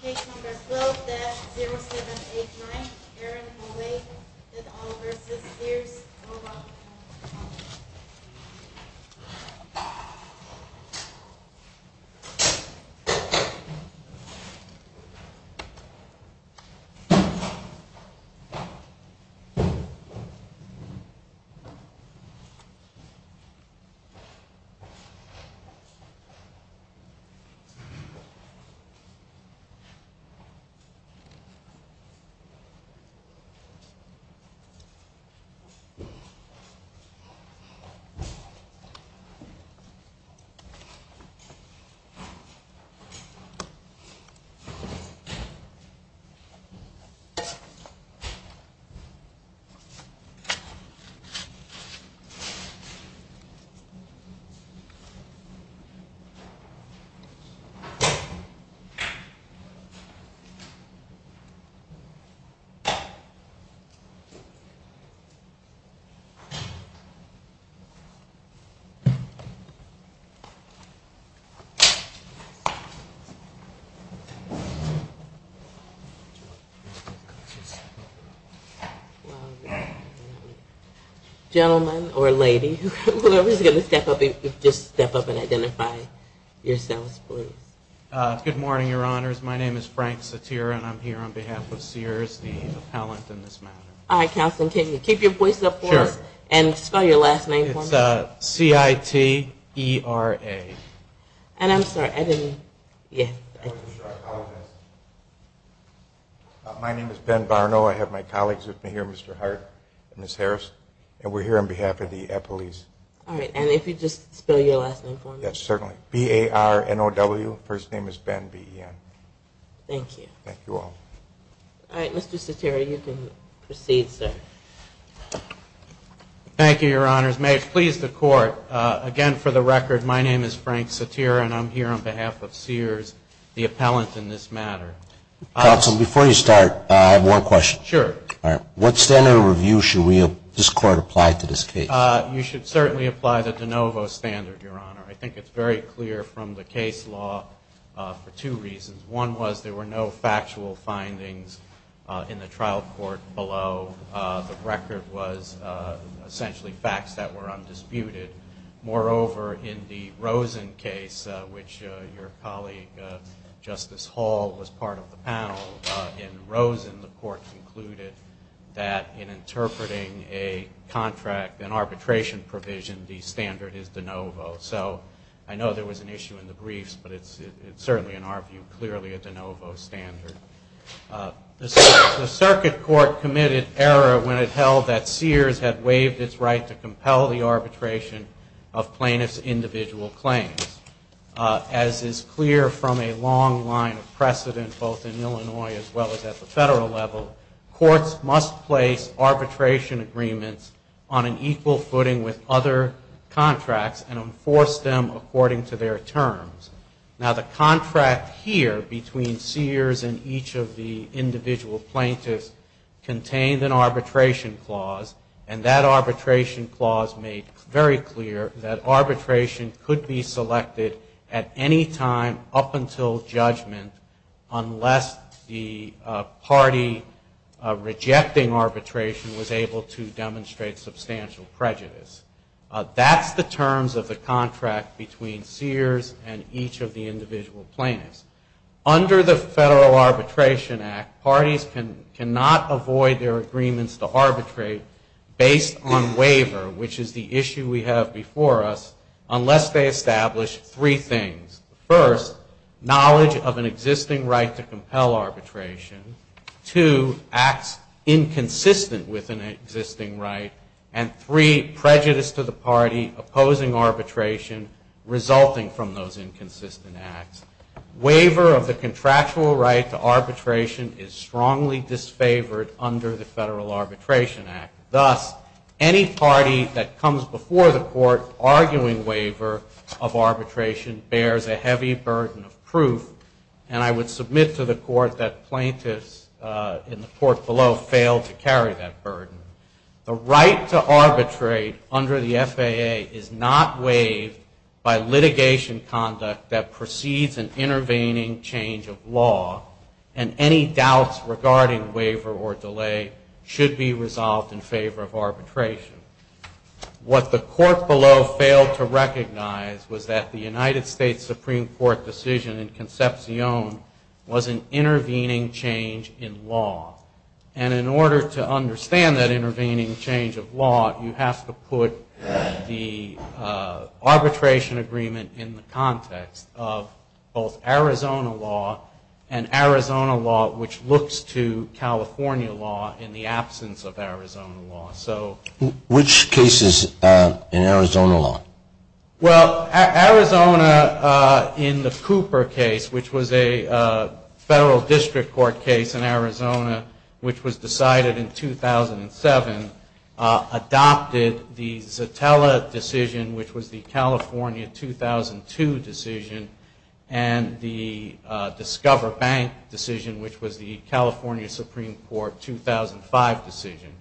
Case No. 12-0789, Aaron Ovay v. Sears, Roebuck & Co. Case No. 12-0789, Aaron Ovay v. Sears, Roebuck & Co. Case No. 12-0789, Aaron Ovay v. Sears, Roebuck & Co. Good morning, your honors. My name is Frank Satira, and I'm here on behalf of Sears, the appellant in this matter. All right, counsel, can you keep your voices up for us and spell your last name for me? It's C-I-T-E-R-A. And I'm sorry, I didn't, yeah. My name is Ben Barno. I have my colleagues with me here, Mr. Hart and Ms. Harris, and we're here on behalf of the police. All right, and if you'd just spell your last name for me. Yes, certainly. B-A-R-N-O-W. First name is Ben, B-E-N. Thank you. Thank you all. All right, Mr. Satira, you can proceed, sir. Thank you, your honors. May it please the Court, again, for the record, my name is Frank Satira, and I'm here on behalf of Sears, the appellant in this matter. Counsel, before you start, I have one question. Sure. All right. What standard of review should we, this Court, apply to this case? You should certainly apply the de novo standard, your honor. I think it's very clear from the case law for two reasons. One was there were no factual findings in the trial court below. The record was essentially facts that were undisputed. Moreover, in the Rosen case, which your colleague Justice Hall was part of the panel, in Rosen the Court concluded that in interpreting a contract, an arbitration provision, the standard is de novo. So I know there was an issue in the briefs, but it's certainly, in our view, clearly a de novo standard. The circuit court committed error when it held that Sears had waived its right to compel the arbitration of plaintiffs' individual claims. As is clear from a long line of precedent, both in Illinois as well as at the federal level, courts must place arbitration agreements on an equal footing with other contracts and enforce them according to their terms. Now, the contract here between Sears and each of the individual plaintiffs contained an arbitration clause. And that arbitration clause made very clear that arbitration could be selected at any time up until judgment unless the party rejecting arbitration was able to demonstrate substantial prejudice. That's the terms of the contract between Sears and each of the individual plaintiffs. Under the Federal Arbitration Act, parties cannot avoid their agreements to arbitrate based on waiver, which is the issue we have before us, unless they establish three things. First, knowledge of an existing right to compel arbitration. Two, acts inconsistent with an existing right. And three, prejudice to the party opposing arbitration resulting from those inconsistent acts. Waiver of the contractual right to arbitration is strongly disfavored under the Federal Arbitration Act. Thus, any party that comes before the court arguing waiver of arbitration bears a heavy burden of proof. And I would submit to the court that plaintiffs in the court below failed to carry that burden. The right to arbitrate under the FAA is not waived by litigation conduct that precedes an intervening change of law. And any doubts regarding waiver or delay should be resolved in favor of arbitration. What the court below failed to recognize was that the United States Supreme Court decision in Concepcion was an intervening change in law. And in order to understand that intervening change of law, you have to put the arbitration agreement in the context of both Arizona law and Arizona law, which looks to California law in the absence of Arizona law. Which cases in Arizona law? Well, Arizona in the Cooper case, which was a Federal District Court case in Arizona, which was decided in 2007, adopted the Zatella decision, which was the California 2002 decision, and the Discover Bank decision, which was the California Supreme Court 2005 decision.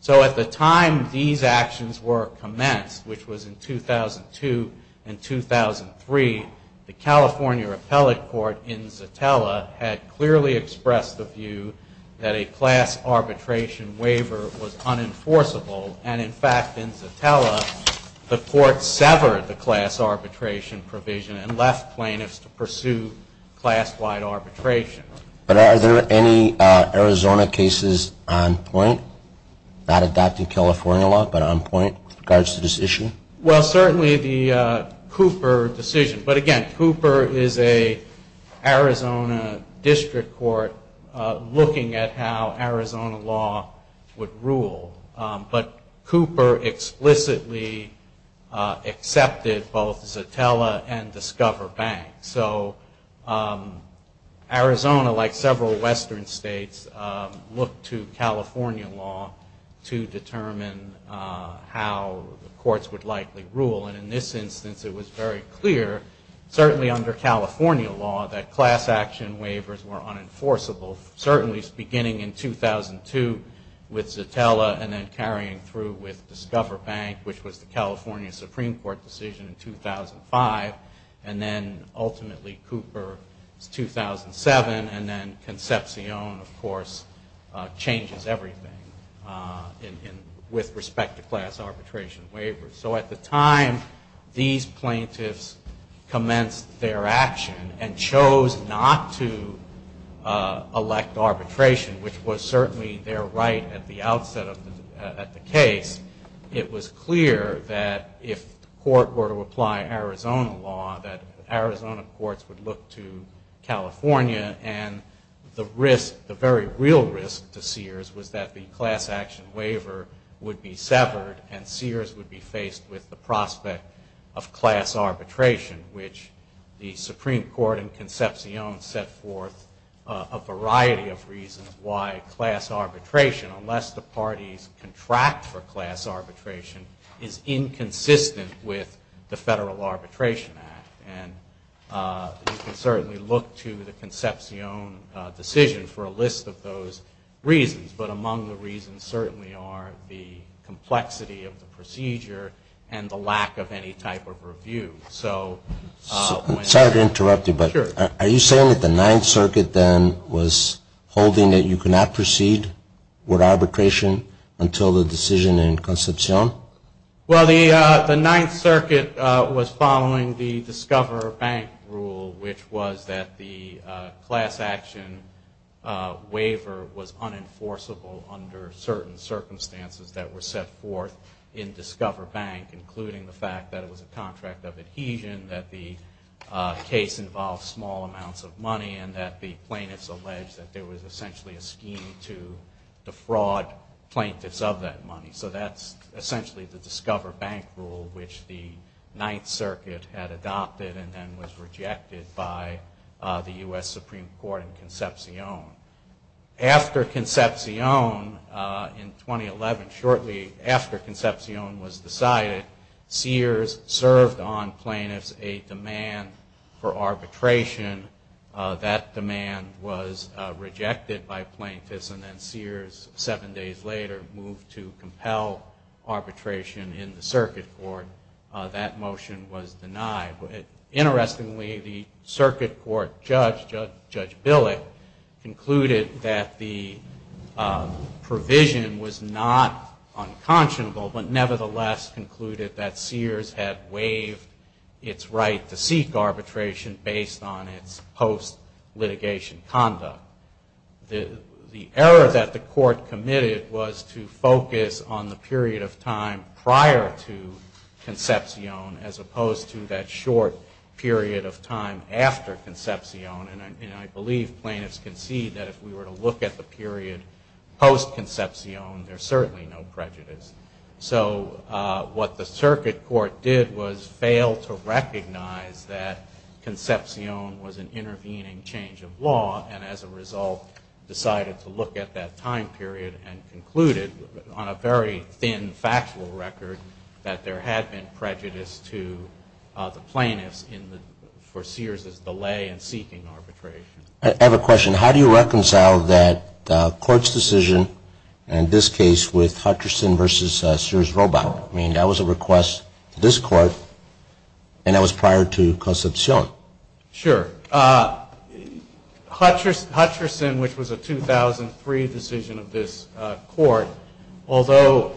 So at the time these actions were commenced, which was in 2002 and 2003, the California Appellate Court in Zatella had clearly expressed the view that a class arbitration waiver was unenforceable. And in fact, in Zatella, the court severed the class arbitration provision and left plaintiffs to pursue class-wide arbitration. But are there any Arizona cases on point? Not adopting California law, but on point with regards to this issue? Well, certainly the Cooper decision. But again, Cooper is an Arizona District Court looking at how Arizona law would rule. But Cooper explicitly accepted both Zatella and Discover Bank. So Arizona, like several Western states, looked to California law to determine how the courts would likely rule. And in this instance, it was very clear, certainly under California law, that class action waivers were unenforceable. Certainly beginning in 2002 with Zatella and then carrying through with Discover Bank, which was the California Supreme Court decision in 2005. And then ultimately Cooper in 2007, and then Concepcion, of course, changes everything with respect to class arbitration waivers. So at the time, these plaintiffs commenced their action and chose not to elect arbitration, which was certainly their right at the outset of the case. It was clear that if the court were to apply Arizona law, that Arizona courts would look to California. And the risk, the very real risk to Sears was that the class action waiver would be severed and Sears would be faced with the prospect of class arbitration, which the Supreme Court and Concepcion set forth a variety of reasons why class arbitration, unless the parties contract for class arbitration, is inconsistent with the Federal Arbitration Act. And you can certainly look to the Concepcion decision for a list of those reasons. But among the reasons certainly are the complexity of the procedure and the lack of any type of review. So when... I'm sorry to interrupt you, but are you saying that the Ninth Circuit then was holding that you could not proceed with arbitration until the decision in Concepcion? Well, the Ninth Circuit was following the Discover Bank rule, which was that the class action waiver was unenforceable under certain circumstances that were set forth in Discover Bank, including the fact that it was a contract of adhesion, that the case involved small amounts of money, and that the plaintiffs alleged that there was essentially a scheme to defraud plaintiffs of that money. So that's the case. That's essentially the Discover Bank rule, which the Ninth Circuit had adopted and then was rejected by the U.S. Supreme Court and Concepcion. After Concepcion, in 2011, shortly after Concepcion was decided, Sears served on plaintiffs a demand for arbitration. That demand was rejected by the U.S. Supreme Court, and the motion to compel arbitration in the circuit court, that motion was denied. Interestingly, the circuit court judge, Judge Billick, concluded that the provision was not unconscionable, but nevertheless concluded that Sears had waived its right to seek arbitration based on its post-litigation conduct. The error that the court committed was to focus on the period of time prior to Concepcion as opposed to that short period of time after Concepcion, and I believe plaintiffs concede that if we were to look at the period post-Concepcion, there's certainly no prejudice. So what the circuit court did was fail to recognize that Concepcion was an intervening change of law, and as a result, decided to look at that time period and concluded, on a very thin factual record, that there had been prejudice to the plaintiffs for Sears's delay in seeking arbitration. I have a question. How do you reconcile that court's decision, in this case with Hutcherson v. Sears-Roback? I mean, that was a request from the plaintiffs to this Court, and that was prior to Concepcion. Sure. Hutcherson, which was a 2003 decision of this Court, although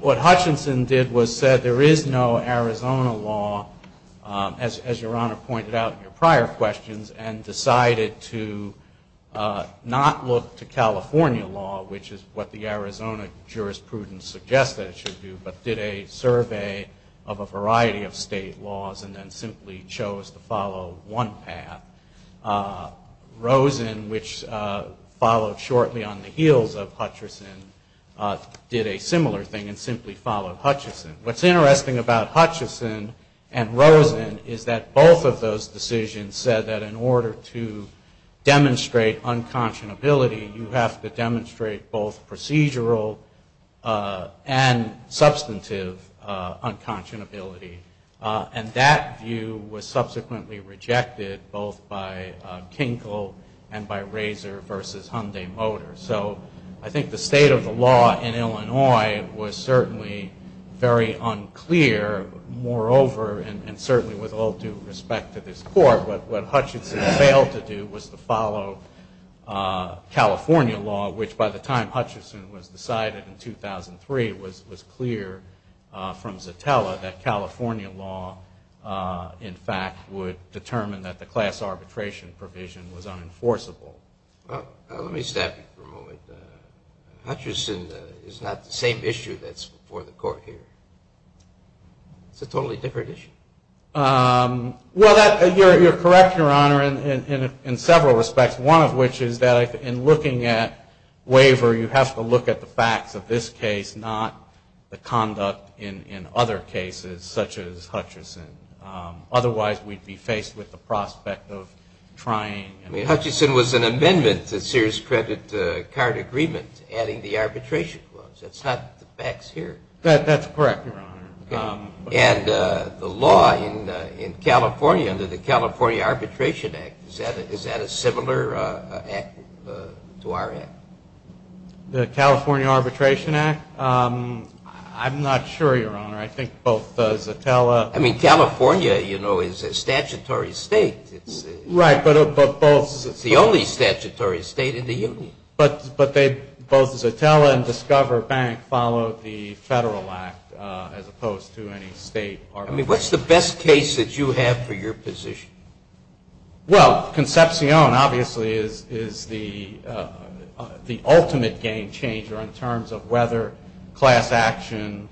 what Hutcherson did was said there is no Arizona law, as Your Honor pointed out in your prior questions, and decided to not look to California law, which is what the Arizona jurisprudence suggests that it should do, but did a survey of the variety of state laws, and then simply chose to follow one path. Rosen, which followed shortly on the heels of Hutcherson, did a similar thing, and simply followed Hutcherson. What's interesting about Hutcherson and Rosen is that both of those decisions said that in order to demonstrate unconscionability, you have to demonstrate both procedural and substantive unconscionability. And I think that's a very important point. Unconscionability. And that view was subsequently rejected both by Kinkle and by Razor v. Hyundai Motor. So I think the state of the law in Illinois was certainly very unclear. Moreover, and certainly with all due respect to this Court, what Hutcherson failed to do was to follow California law, which by the time I was there, I had heard from Zatella that California law, in fact, would determine that the class arbitration provision was unenforceable. Well, let me stop you for a moment. Hutcherson is not the same issue that's before the Court here. It's a totally different issue. Well, you're correct, Your Honor, in several respects, one of which is that in looking at waiver, you have to look at the facts of this case, not the conduct in other cases such as Hutcherson. Otherwise, we'd be faced with the prospect of trying. I mean, Hutcherson was an amendment to Sears Credit Card Agreement adding the arbitration clause. That's not the facts here. That's correct, Your Honor. And the law in California under the California Arbitration Act, is that a similar act to our act? The California Arbitration Act? I'm not sure, Your Honor. I think both Zatella... I mean, California, you know, is a statutory state. Right, but both... It's the only statutory state in the Union. But both Zatella and Discover Bank follow the Federal Act as opposed to any state arbitration. I mean, what's the best case that you have for your position? Well, Concepcion, obviously, is the ultimate game changer in terms of whether class action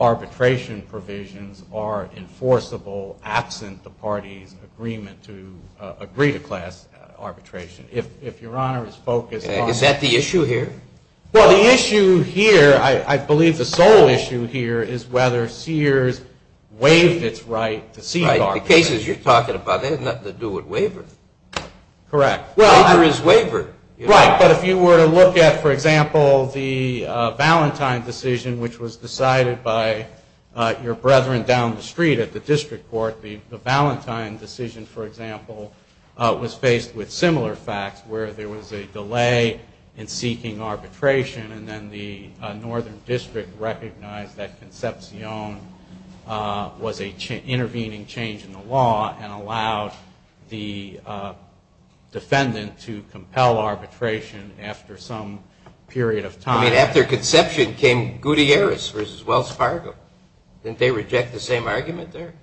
arbitration provisions are enforceable absent the party's agreement to agree to class arbitration. If Your Honor is focused on... Is that the issue here? Well, the issue here, I believe the sole issue here, is whether Sears waived its right to seek arbitration. Right, the cases you're talking about, they have nothing to do with waiver. Correct. Waiver is waiver. Right, but if you were to look at, for example, the Valentine decision, which was decided by your brethren down the street at the district court, the Valentine decision, for example, was faced with similar facts, where there was a delay in seeking arbitration, and then the northern district recognized that Concepcion was an intervening change in the law, and allowed the defendant to compel arbitration after some period of time. I mean, after Concepcion came Gutierrez v. Wells Fargo. Didn't they reject the same argument there?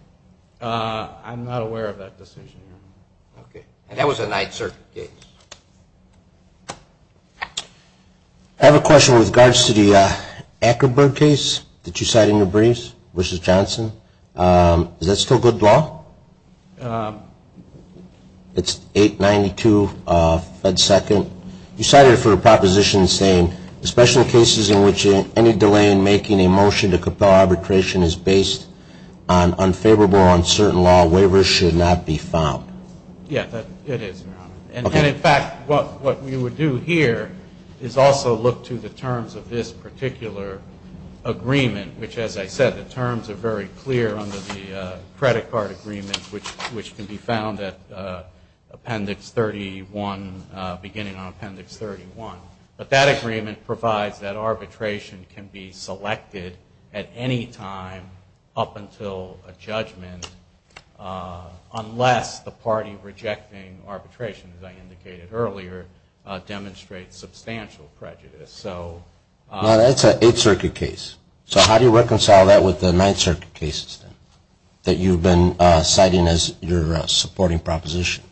I'm not aware of that decision, Your Honor. Okay. And that was a Ninth Circuit case. I have a question with regards to the Ackerberg case that you cited in your briefs, v. Johnson. Is that still good law? It's 892 Fed 2nd. You cited it for a proposition saying, especially in cases in which any delay in making a motion to compel arbitration is based on unfavorable or uncertain law, waivers should not be found. Yeah, it is, Your Honor. And, in fact, what we would do here is also look to the terms of this particular agreement, which, as I said, the terms are very clear under the credit card agreement, which can be found at Appendix 31, beginning on Appendix 31. But that agreement provides that arbitration can be selected at any time up until a judgment, unless the party rejecting arbitration, as I indicated earlier, demonstrates substantial prejudice. Now, that's an Eighth Circuit case. So how do you reconcile that with the Ninth Circuit cases, then, that you've been citing as your supporting proposition?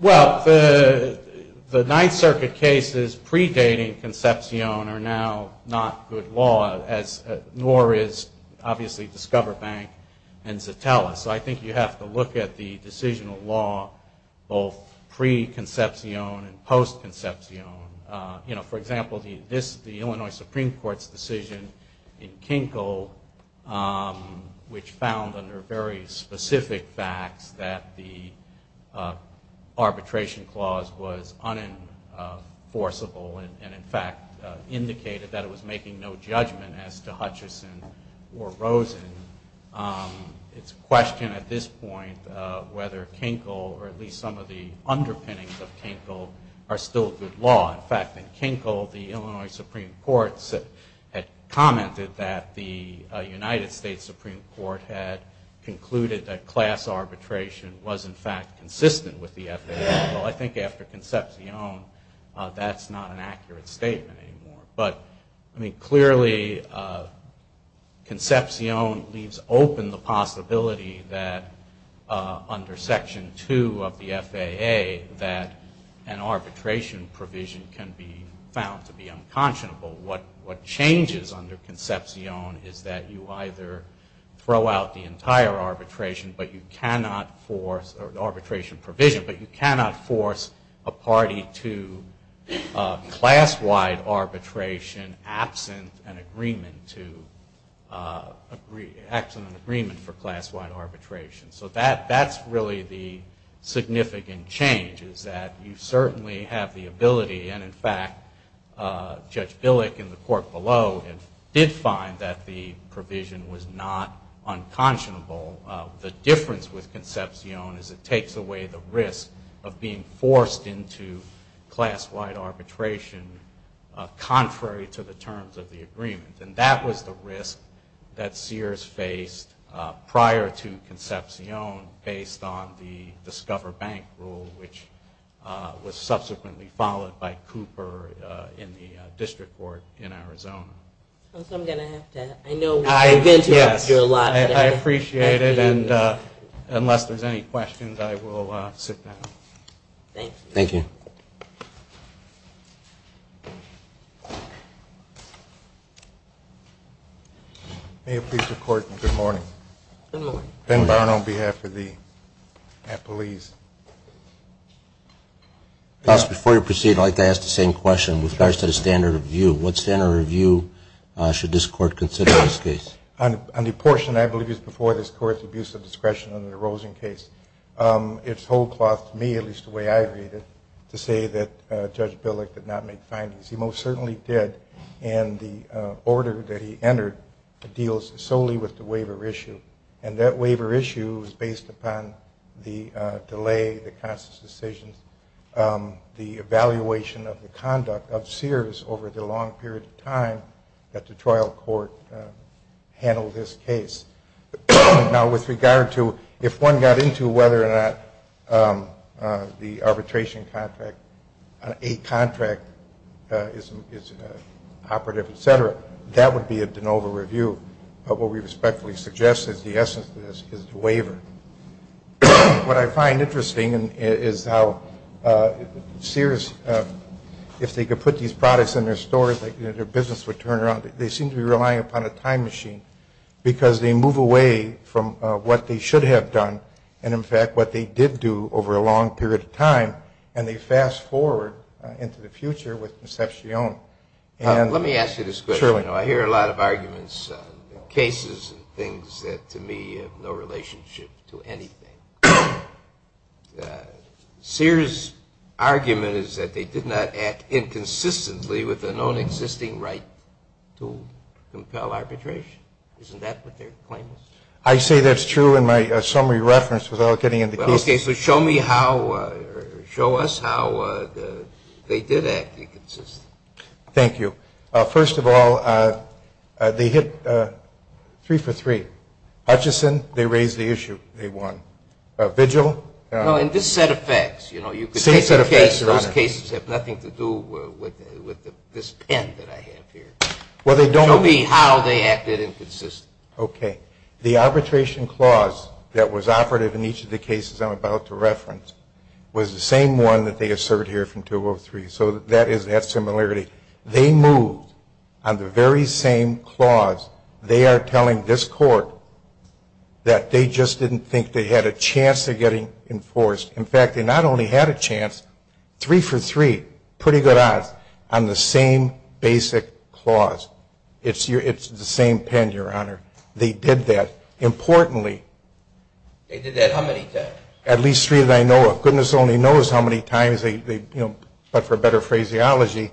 Well, the Ninth Circuit cases predating Concepcion are now not good law, nor is, obviously, Discover Bank and Zatella. So I think you have to look at the decisional law both pre-Concepcion and post-Concepcion. You know, for example, the Illinois Supreme Court's decision in Kinkle, which found under very specific facts that the arbitration clause was unenforceable and, in fact, indicated that it was making no judgment as to Hutchison or Rosen, it's a question at this point whether Kinkle, or at least some of the underpinnings of Kinkle, are still good law. In fact, in Kinkle, the Illinois Supreme Court had commented that the United States Supreme Court had concluded that class arbitration was, in fact, consistent with the FAA. Well, I think after Concepcion, that's not an accurate statement anymore. But, I mean, clearly, Concepcion leaves open the possibility that under Section 2 of the FAA that an arbitration provision can be found to be unconscionable. What changes under Concepcion is that you either throw out the entire arbitration, or arbitration provision, but you cannot force a party to class-wide arbitration absent an agreement for class-wide arbitration. So that's really the significant change, is that you certainly have the ability, and, in fact, Judge Billick in the court below did find that the provision was not unconscionable. The difference with Concepcion is it takes away the risk of being forced into class-wide arbitration contrary to the terms of the agreement. And that was the risk that Sears faced prior to Concepcion based on the Discover Bank rule, which was subsequently followed by Cooper in the district court in Arizona. I know we've been here a lot. I appreciate it, and unless there's any questions, I will sit down. Thank you. May it please the Court, good morning. Good morning. Ben Barn on behalf of the police. Counsel, before you proceed, I'd like to ask the same question with regards to the standard of review. What standard of review should this Court consider in this case? On the portion I believe is before this Court, the abuse of discretion under the Rosen case, it's whole cloth to me, at least the way I read it, to say that Judge Billick did not make findings. He most certainly did, and the order that he entered deals solely with the waiver issue, and that waiver issue is based upon the delay, the conscious decisions, the evaluation of the conduct of Sears over the long period of time that the trial court handled this case. Now, with regard to if one got into whether or not the arbitration contract, a contract is operative, et cetera, that would be a de novo review. What we respectfully suggest is the essence of this is the waiver. What I find interesting is how Sears, if they could put these products in their stores, their business would turn around. They seem to be relying upon a time machine because they move away from what they should have done and, in fact, what they did do over a long period of time, and they fast forward into the future with perception. Let me ask you this question. Sure. You know, I hear a lot of arguments, cases and things that, to me, have no relationship to anything. Sears' argument is that they did not act inconsistently with the non-existing right to compel arbitration. Isn't that what they're claiming? I say that's true in my summary reference without getting into cases. Well, okay, so show me how or show us how they did act inconsistently. Thank you. First of all, they hit three for three. Hutchison, they raised the issue. They won. Vigil? No, in this set of facts, you know, you could take a case, and those cases have nothing to do with this pen that I have here. Well, they don't. Show me how they acted inconsistently. Okay. The arbitration clause that was operative in each of the cases I'm about to reference was the same one that they assert here from 203, so that is that similarity. They moved on the very same clause. They are telling this Court that they just didn't think they had a chance of getting enforced. In fact, they not only had a chance, three for three, pretty good odds, on the same basic clause. It's the same pen, Your Honor. They did that. Importantly, they did that how many times? At least three that I know of. Goodness only knows how many times they, you know, but for better phraseology,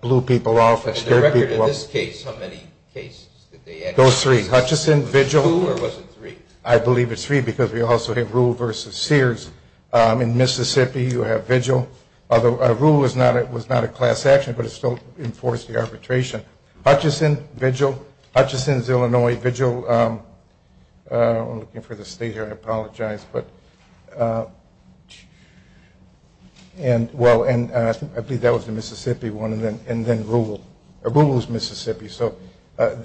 blew people off. On the record in this case, how many cases did they act? Hutchison, Vigil. Two or was it three? I believe it's three because we also have Ruhl versus Sears. In Mississippi, you have Vigil. Ruhl was not a class action, but it still enforced the arbitration. Hutchison, Vigil. Hutchison's, Illinois, Vigil. I'm looking for the state here. I apologize. I believe that was the Mississippi one, and then Ruhl. Ruhl was Mississippi, so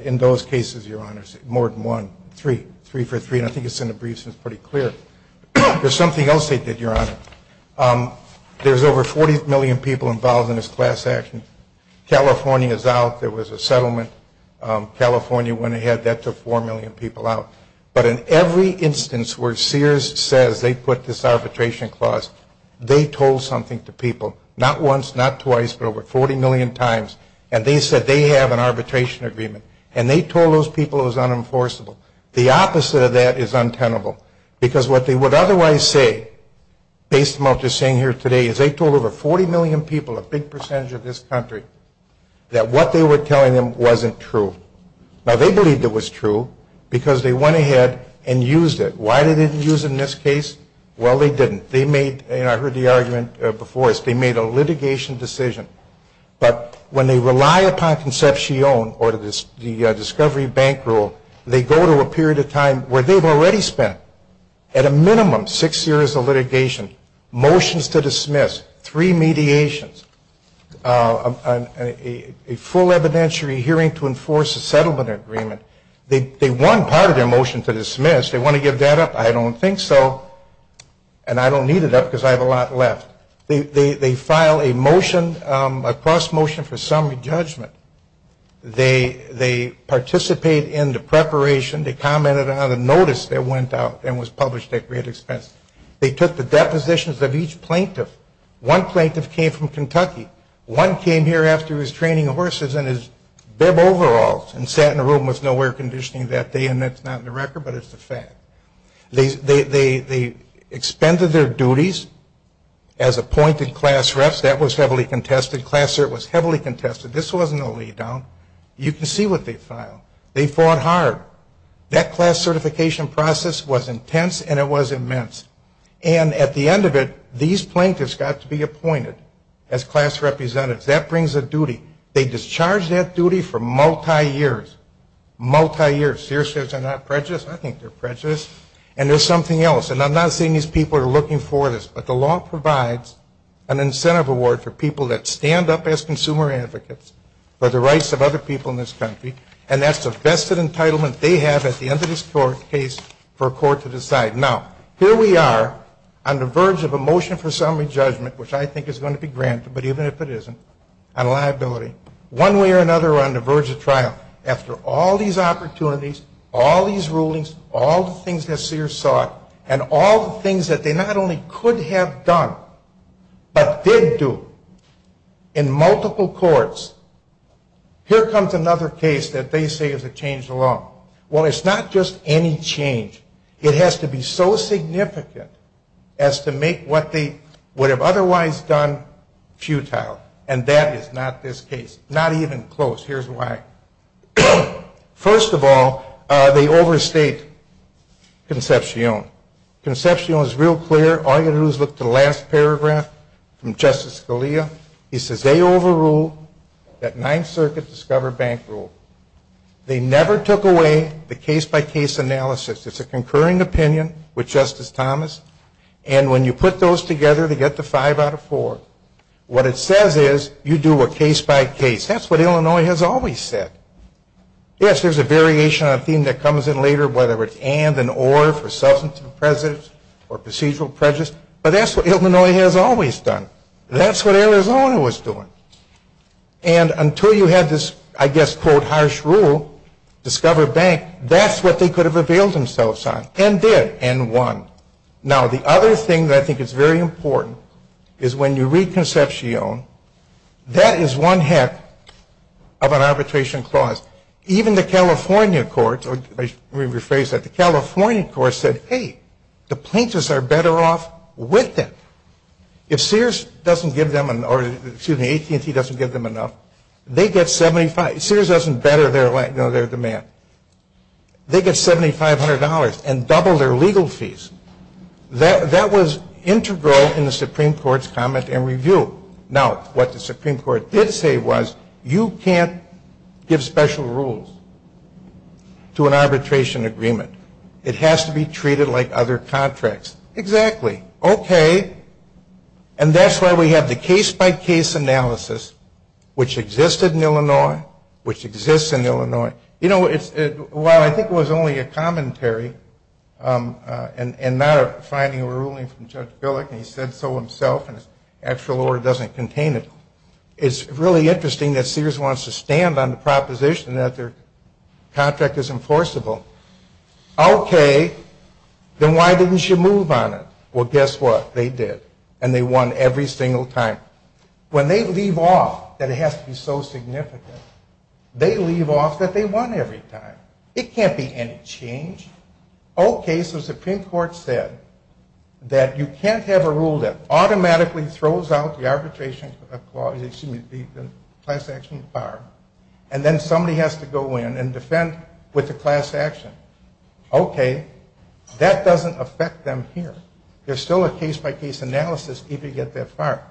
in those cases, Your Honors, more than one. Three. Three for three, and I think it's in the briefs and it's pretty clear. There's something else they did, Your Honor. There's over 40 million people involved in this class action. California's out. There was a settlement. California went ahead. That took 4 million people out. But in every instance where Sears says they put this arbitration clause, they told something to people, not once, not twice, but over 40 million times, and they said they have an arbitration agreement, and they told those people it was unenforceable. The opposite of that is untenable because what they would otherwise say, based on what they're saying here today, is they told over 40 million people, a big percentage of this country, that what they were telling them wasn't true. Now, they believed it was true because they went ahead and used it. Why did they use it in this case? Well, they didn't. They made, and I heard the argument before this, they made a litigation decision. But when they rely upon Concepcion or the Discovery Bank Rule, they go to a period of time where they've already spent, at a minimum, six years of litigation, motions to dismiss, three mediations, a full evidentiary hearing to enforce a settlement agreement. They want part of their motion to dismiss. They want to give that up. I don't think so, and I don't need it up because I have a lot left. They file a motion, a cross motion for summary judgment. They participate in the preparation. They commented on the notice that went out and was published at great expense. They took the depositions of each plaintiff. One plaintiff came from Kentucky. One came here after he was training horses in his bib overalls and sat in a room with no air conditioning that day, and that's not in the record, but it's a fact. They expended their duties as appointed class reps. That was heavily contested. Class cert was heavily contested. This wasn't a lay down. You can see what they filed. They fought hard. That class certification process was intense, and it was immense. And at the end of it, these plaintiffs got to be appointed as class representatives. That brings a duty. They discharged that duty for multi-years, multi-years. Sears says they're not prejudiced. I think they're prejudiced, and there's something else, and I'm not saying these people are looking for this, but the law provides an incentive award for people that stand up as consumer advocates for the rights of other people in this country, and that's the best entitlement they have at the end of this court case for a court to decide. Now, here we are on the verge of a motion for summary judgment, which I think is going to be granted, but even if it isn't, on liability. One way or another we're on the verge of trial. After all these opportunities, all these rulings, all the things that Sears sought, and all the things that they not only could have done but did do in multiple courts, here comes another case that they say is a change in the law. Well, it's not just any change. It has to be so significant as to make what they would have otherwise done futile, and that is not this case. Not even close. Here's why. First of all, they overstate Concepcion. Concepcion is real clear. All you've got to do is look at the last paragraph from Justice Scalia. He says they overrule that Ninth Circuit Discover Bank Rule. They never took away the case-by-case analysis. It's a concurring opinion with Justice Thomas, and when you put those together to get the five out of four, what it says is you do a case-by-case. That's what Illinois has always said. Yes, there's a variation on a theme that comes in later, whether it's and and or for substantive prejudice or procedural prejudice, but that's what Illinois has always done. That's what Arizona was doing. And until you had this, I guess, quote, harsh rule, Discover Bank, that's what they could have availed themselves on and did and won. Now, the other thing that I think is very important is when you read Concepcion, that is one heck of an arbitration clause. Even the California courts, or let me rephrase that, the California courts said, hey, the plaintiffs are better off with it. If Sears doesn't give them or, excuse me, AT&T doesn't give them enough, they get 75. Sears doesn't better their demand. They get $7,500 and double their legal fees. That was integral in the Supreme Court's comment and review. Now, what the Supreme Court did say was you can't give special rules to an arbitration agreement. It has to be treated like other contracts. Exactly. Exactly. Okay. And that's why we have the case-by-case analysis, which existed in Illinois, which exists in Illinois. You know, while I think it was only a commentary and not a finding or ruling from Judge Billick, and he said so himself and his actual order doesn't contain it, it's really interesting that Sears wants to stand on the proposition that their contract is enforceable. Okay. Then why didn't you move on it? Well, guess what? They did. And they won every single time. When they leave off that it has to be so significant, they leave off that they won every time. It can't be any change. Okay. So the Supreme Court said that you can't have a rule that automatically throws out the arbitration clause, excuse me, the class action bar, and then somebody has to go in and defend with the class action. Okay. That doesn't affect them here. There's still a case-by-case analysis if you get that far.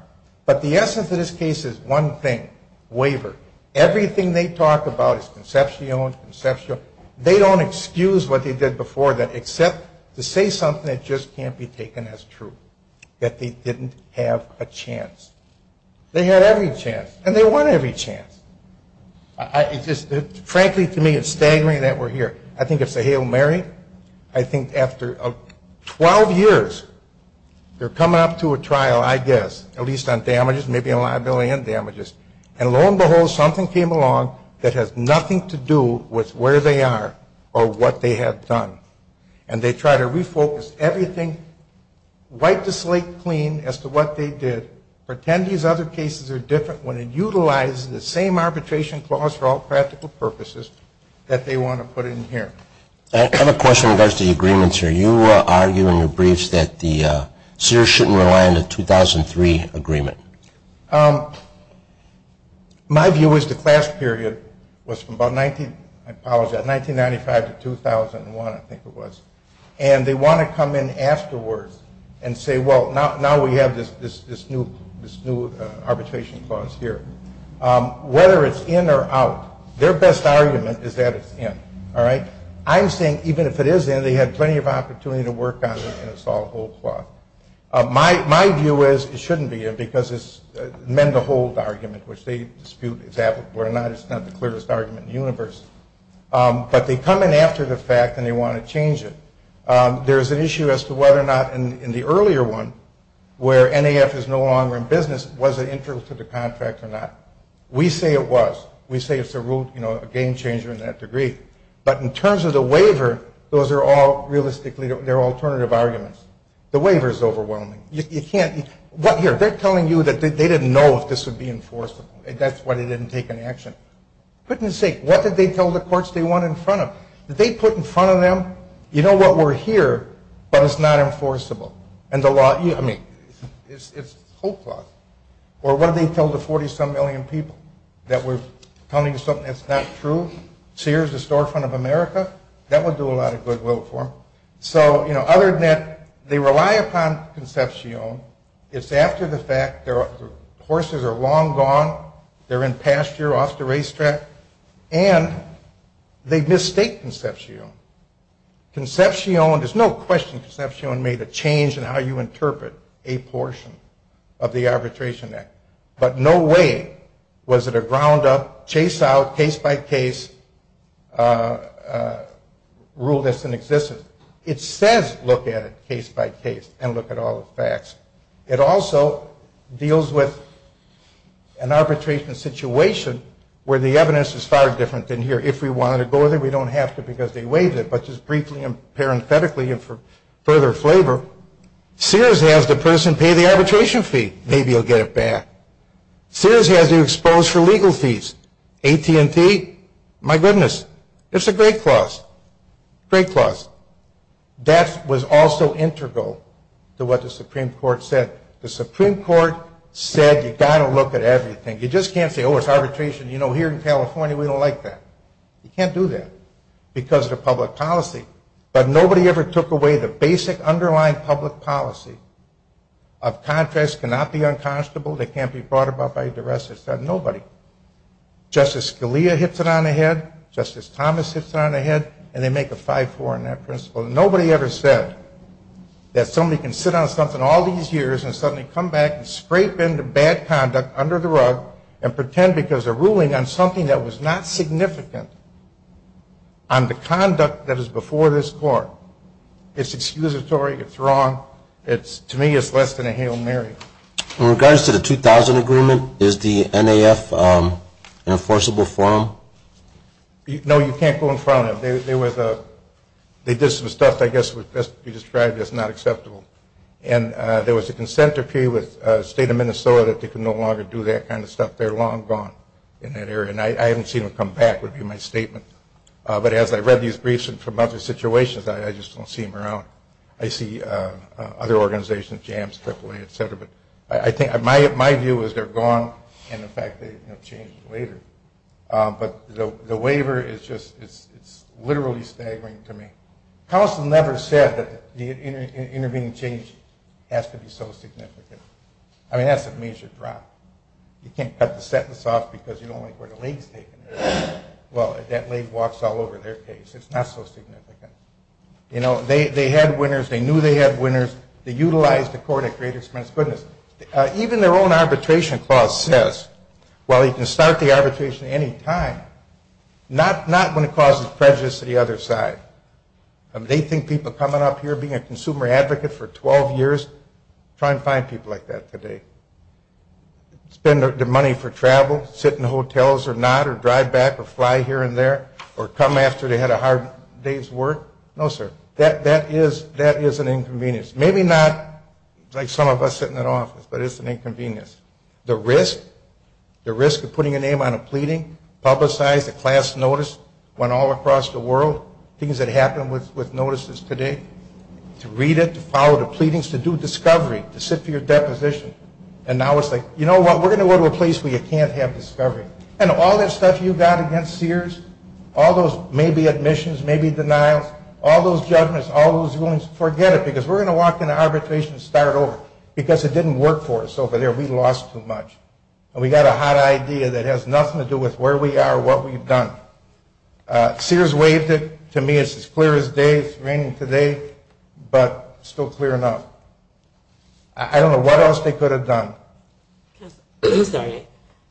But the essence of this case is one thing, waiver. Everything they talk about is conceptual and conceptual. They don't excuse what they did before that except to say something that just can't be taken as true, that they didn't have a chance. They had every chance. And they won every chance. Frankly, to me, it's staggering that we're here. I think it's a Hail Mary. I think after 12 years, they're coming up to a trial, I guess, at least on damages, maybe on liability and damages. And lo and behold, something came along that has nothing to do with where they are or what they have done. And they try to refocus everything, wipe the slate clean as to what they did, pretend these other cases are different when it utilizes the same arbitration clause for all practical purposes that they want to put in here. I have a question in regards to the agreements here. You argue in your briefs that the seers shouldn't rely on the 2003 agreement. My view is the class period was from about 1995 to 2001, I think it was. And they want to come in afterwards and say, well, now we have this new arbitration clause here. Whether it's in or out, their best argument is that it's in. I'm saying even if it is in, they had plenty of opportunity to work on it and it's all a whole plot. My view is it shouldn't be in because it's a men-to-hold argument, which they dispute whether or not it's not the clearest argument in the universe. But they come in after the fact and they want to change it. There's an issue as to whether or not in the earlier one where NAF is no longer in business, was it integral to the contract or not? We say it was. We say it's a game-changer in that degree. But in terms of the waiver, those are all realistically alternative arguments. The waiver is overwhelming. They're telling you that they didn't know if this would be enforceable. That's why they didn't take any action. For goodness sake, what did they tell the courts they went in front of? Did they put in front of them, you know what, we're here, but it's not enforceable. I mean, it's a whole plot. Or what did they tell the 40-some million people, that we're coming to something that's not true? Sears, the storefront of America, that would do a lot of goodwill for them. So, you know, other than that, they rely upon Concepcion. It's after the fact. The horses are long gone. They're in pasture off the racetrack. And they mistake Concepcion. Concepcion, there's no question Concepcion made a change in how you interpret a portion of the Arbitration Act. But no way was it a ground-up, chase-out, case-by-case rule that doesn't exist. It says look at it case-by-case and look at all the facts. It also deals with an arbitration situation where the evidence is far different than here. If we wanted to go there, we don't have to because they waived it. But just briefly and parenthetically and for further flavor, Sears has the person pay the arbitration fee. Maybe he'll get it back. Sears has you exposed for legal fees. AT&T, my goodness, it's a great clause. Great clause. That was also integral to what the Supreme Court said. The Supreme Court said you've got to look at everything. You just can't say, oh, it's arbitration. You know, here in California, we don't like that. You can't do that because of the public policy. But nobody ever took away the basic underlying public policy of contracts cannot be unconscionable, they can't be brought about by duress. Nobody. Justice Scalia hits it on the head. Justice Thomas hits it on the head. And they make a 5-4 on that principle. Nobody ever said that somebody can sit on something all these years and suddenly come back and scrape into bad conduct under the rug and pretend because they're ruling on something that was not significant on the conduct that is before this Court. It's excusatory. It's wrong. To me, it's less than a Hail Mary. In regards to the 2000 agreement, is the NAF enforceable for them? No, you can't go in front of them. They did some stuff I guess would best be described as not acceptable. And there was a consent decree with the state of Minnesota that they could no longer do that kind of stuff. They're long gone in that area. And I haven't seen them come back would be my statement. But as I read these briefs from other situations, I just don't see them around. I see other organizations, JAMS, AAA, et cetera. But I think my view is they're gone and, in fact, they've changed later. But the waiver is just literally staggering to me. Counsel never said that the intervening change has to be so significant. I mean, that's a major drop. You can't cut the sentence off because you don't like where the leg's taken. Well, that leg walks all over their case. It's not so significant. You know, they had winners. They knew they had winners. They utilized the court at great expense. Goodness, even their own arbitration clause says, well, you can start the arbitration at any time, not when it causes prejudice to the other side. They think people coming up here, being a consumer advocate for 12 years, try and find people like that today. Spend their money for travel, sit in hotels or not, or drive back or fly here and there, or come after they had a hard day's work. No, sir. That is an inconvenience. Maybe not like some of us sitting in an office, but it's an inconvenience. The risk, the risk of putting your name on a pleading, publicize a class notice, when all across the world things that happen with notices today, to read it, to follow the pleadings, to do discovery, to sit for your deposition. And now it's like, you know what, we're going to go to a place where you can't have discovery. And all that stuff you got against Sears, all those maybe admissions, maybe denials, all those judgments, all those rulings, forget it because we're going to walk into arbitration and start over because it didn't work for us over there. We lost too much. And we got a hot idea that has nothing to do with where we are or what we've done. Sears waived it. To me, it's as clear as day. It's raining today, but still clear enough. I don't know what else they could have done. I'm sorry.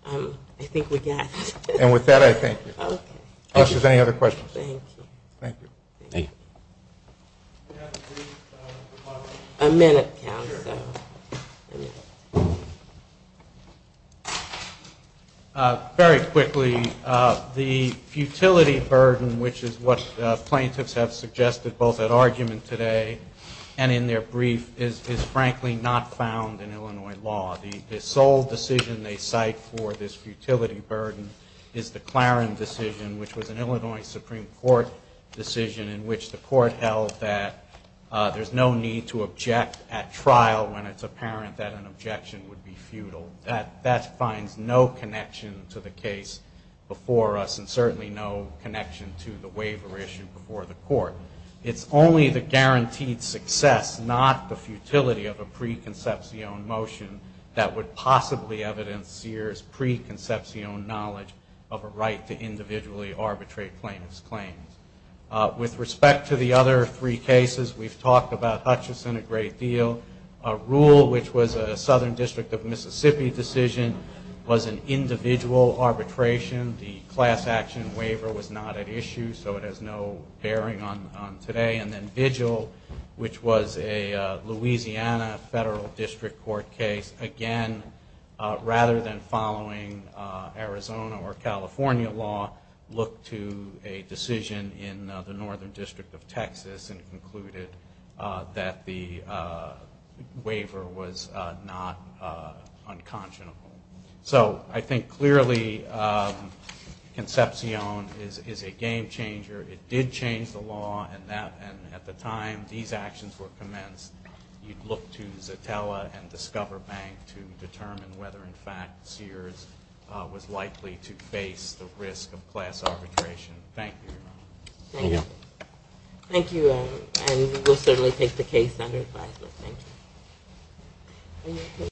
I think we got it. And with that, I thank you. Okay. If there's any other questions. Thank you. Thank you. Thank you. A minute, counsel. Sure. Very quickly, the futility burden, which is what plaintiffs have suggested both at argument today and in their brief, is frankly not found in Illinois law. The sole decision they cite for this futility burden is the Claren decision, which was an Illinois Supreme Court decision in which the court held that there's no need to object at trial when it's apparent that an objection would be futile. That finds no connection to the case before us and certainly no connection to the waiver issue before the court. It's only the guaranteed success, not the futility of a preconception motion, that would possibly evidence Sears' preconception knowledge of a right to individually arbitrate plaintiffs' claims. With respect to the other three cases, we've talked about Hutchison a great deal. Rule, which was a Southern District of Mississippi decision, was an individual arbitration. The class action waiver was not at issue, so it has no bearing on today. And then Vigil, which was a Louisiana Federal District Court case, again, rather than following Arizona or California law, looked to a decision in the Northern District of Texas and concluded that the waiver was not unconscionable. So I think clearly Concepcion is a game changer. It did change the law, and at the time these actions were commenced, you'd look to Zatella and Discover Bank to determine whether, in fact, Sears was likely to face the risk of class arbitration. Thank you, Your Honor. Thank you. Thank you, and we'll certainly take the case under advisement. Thank you.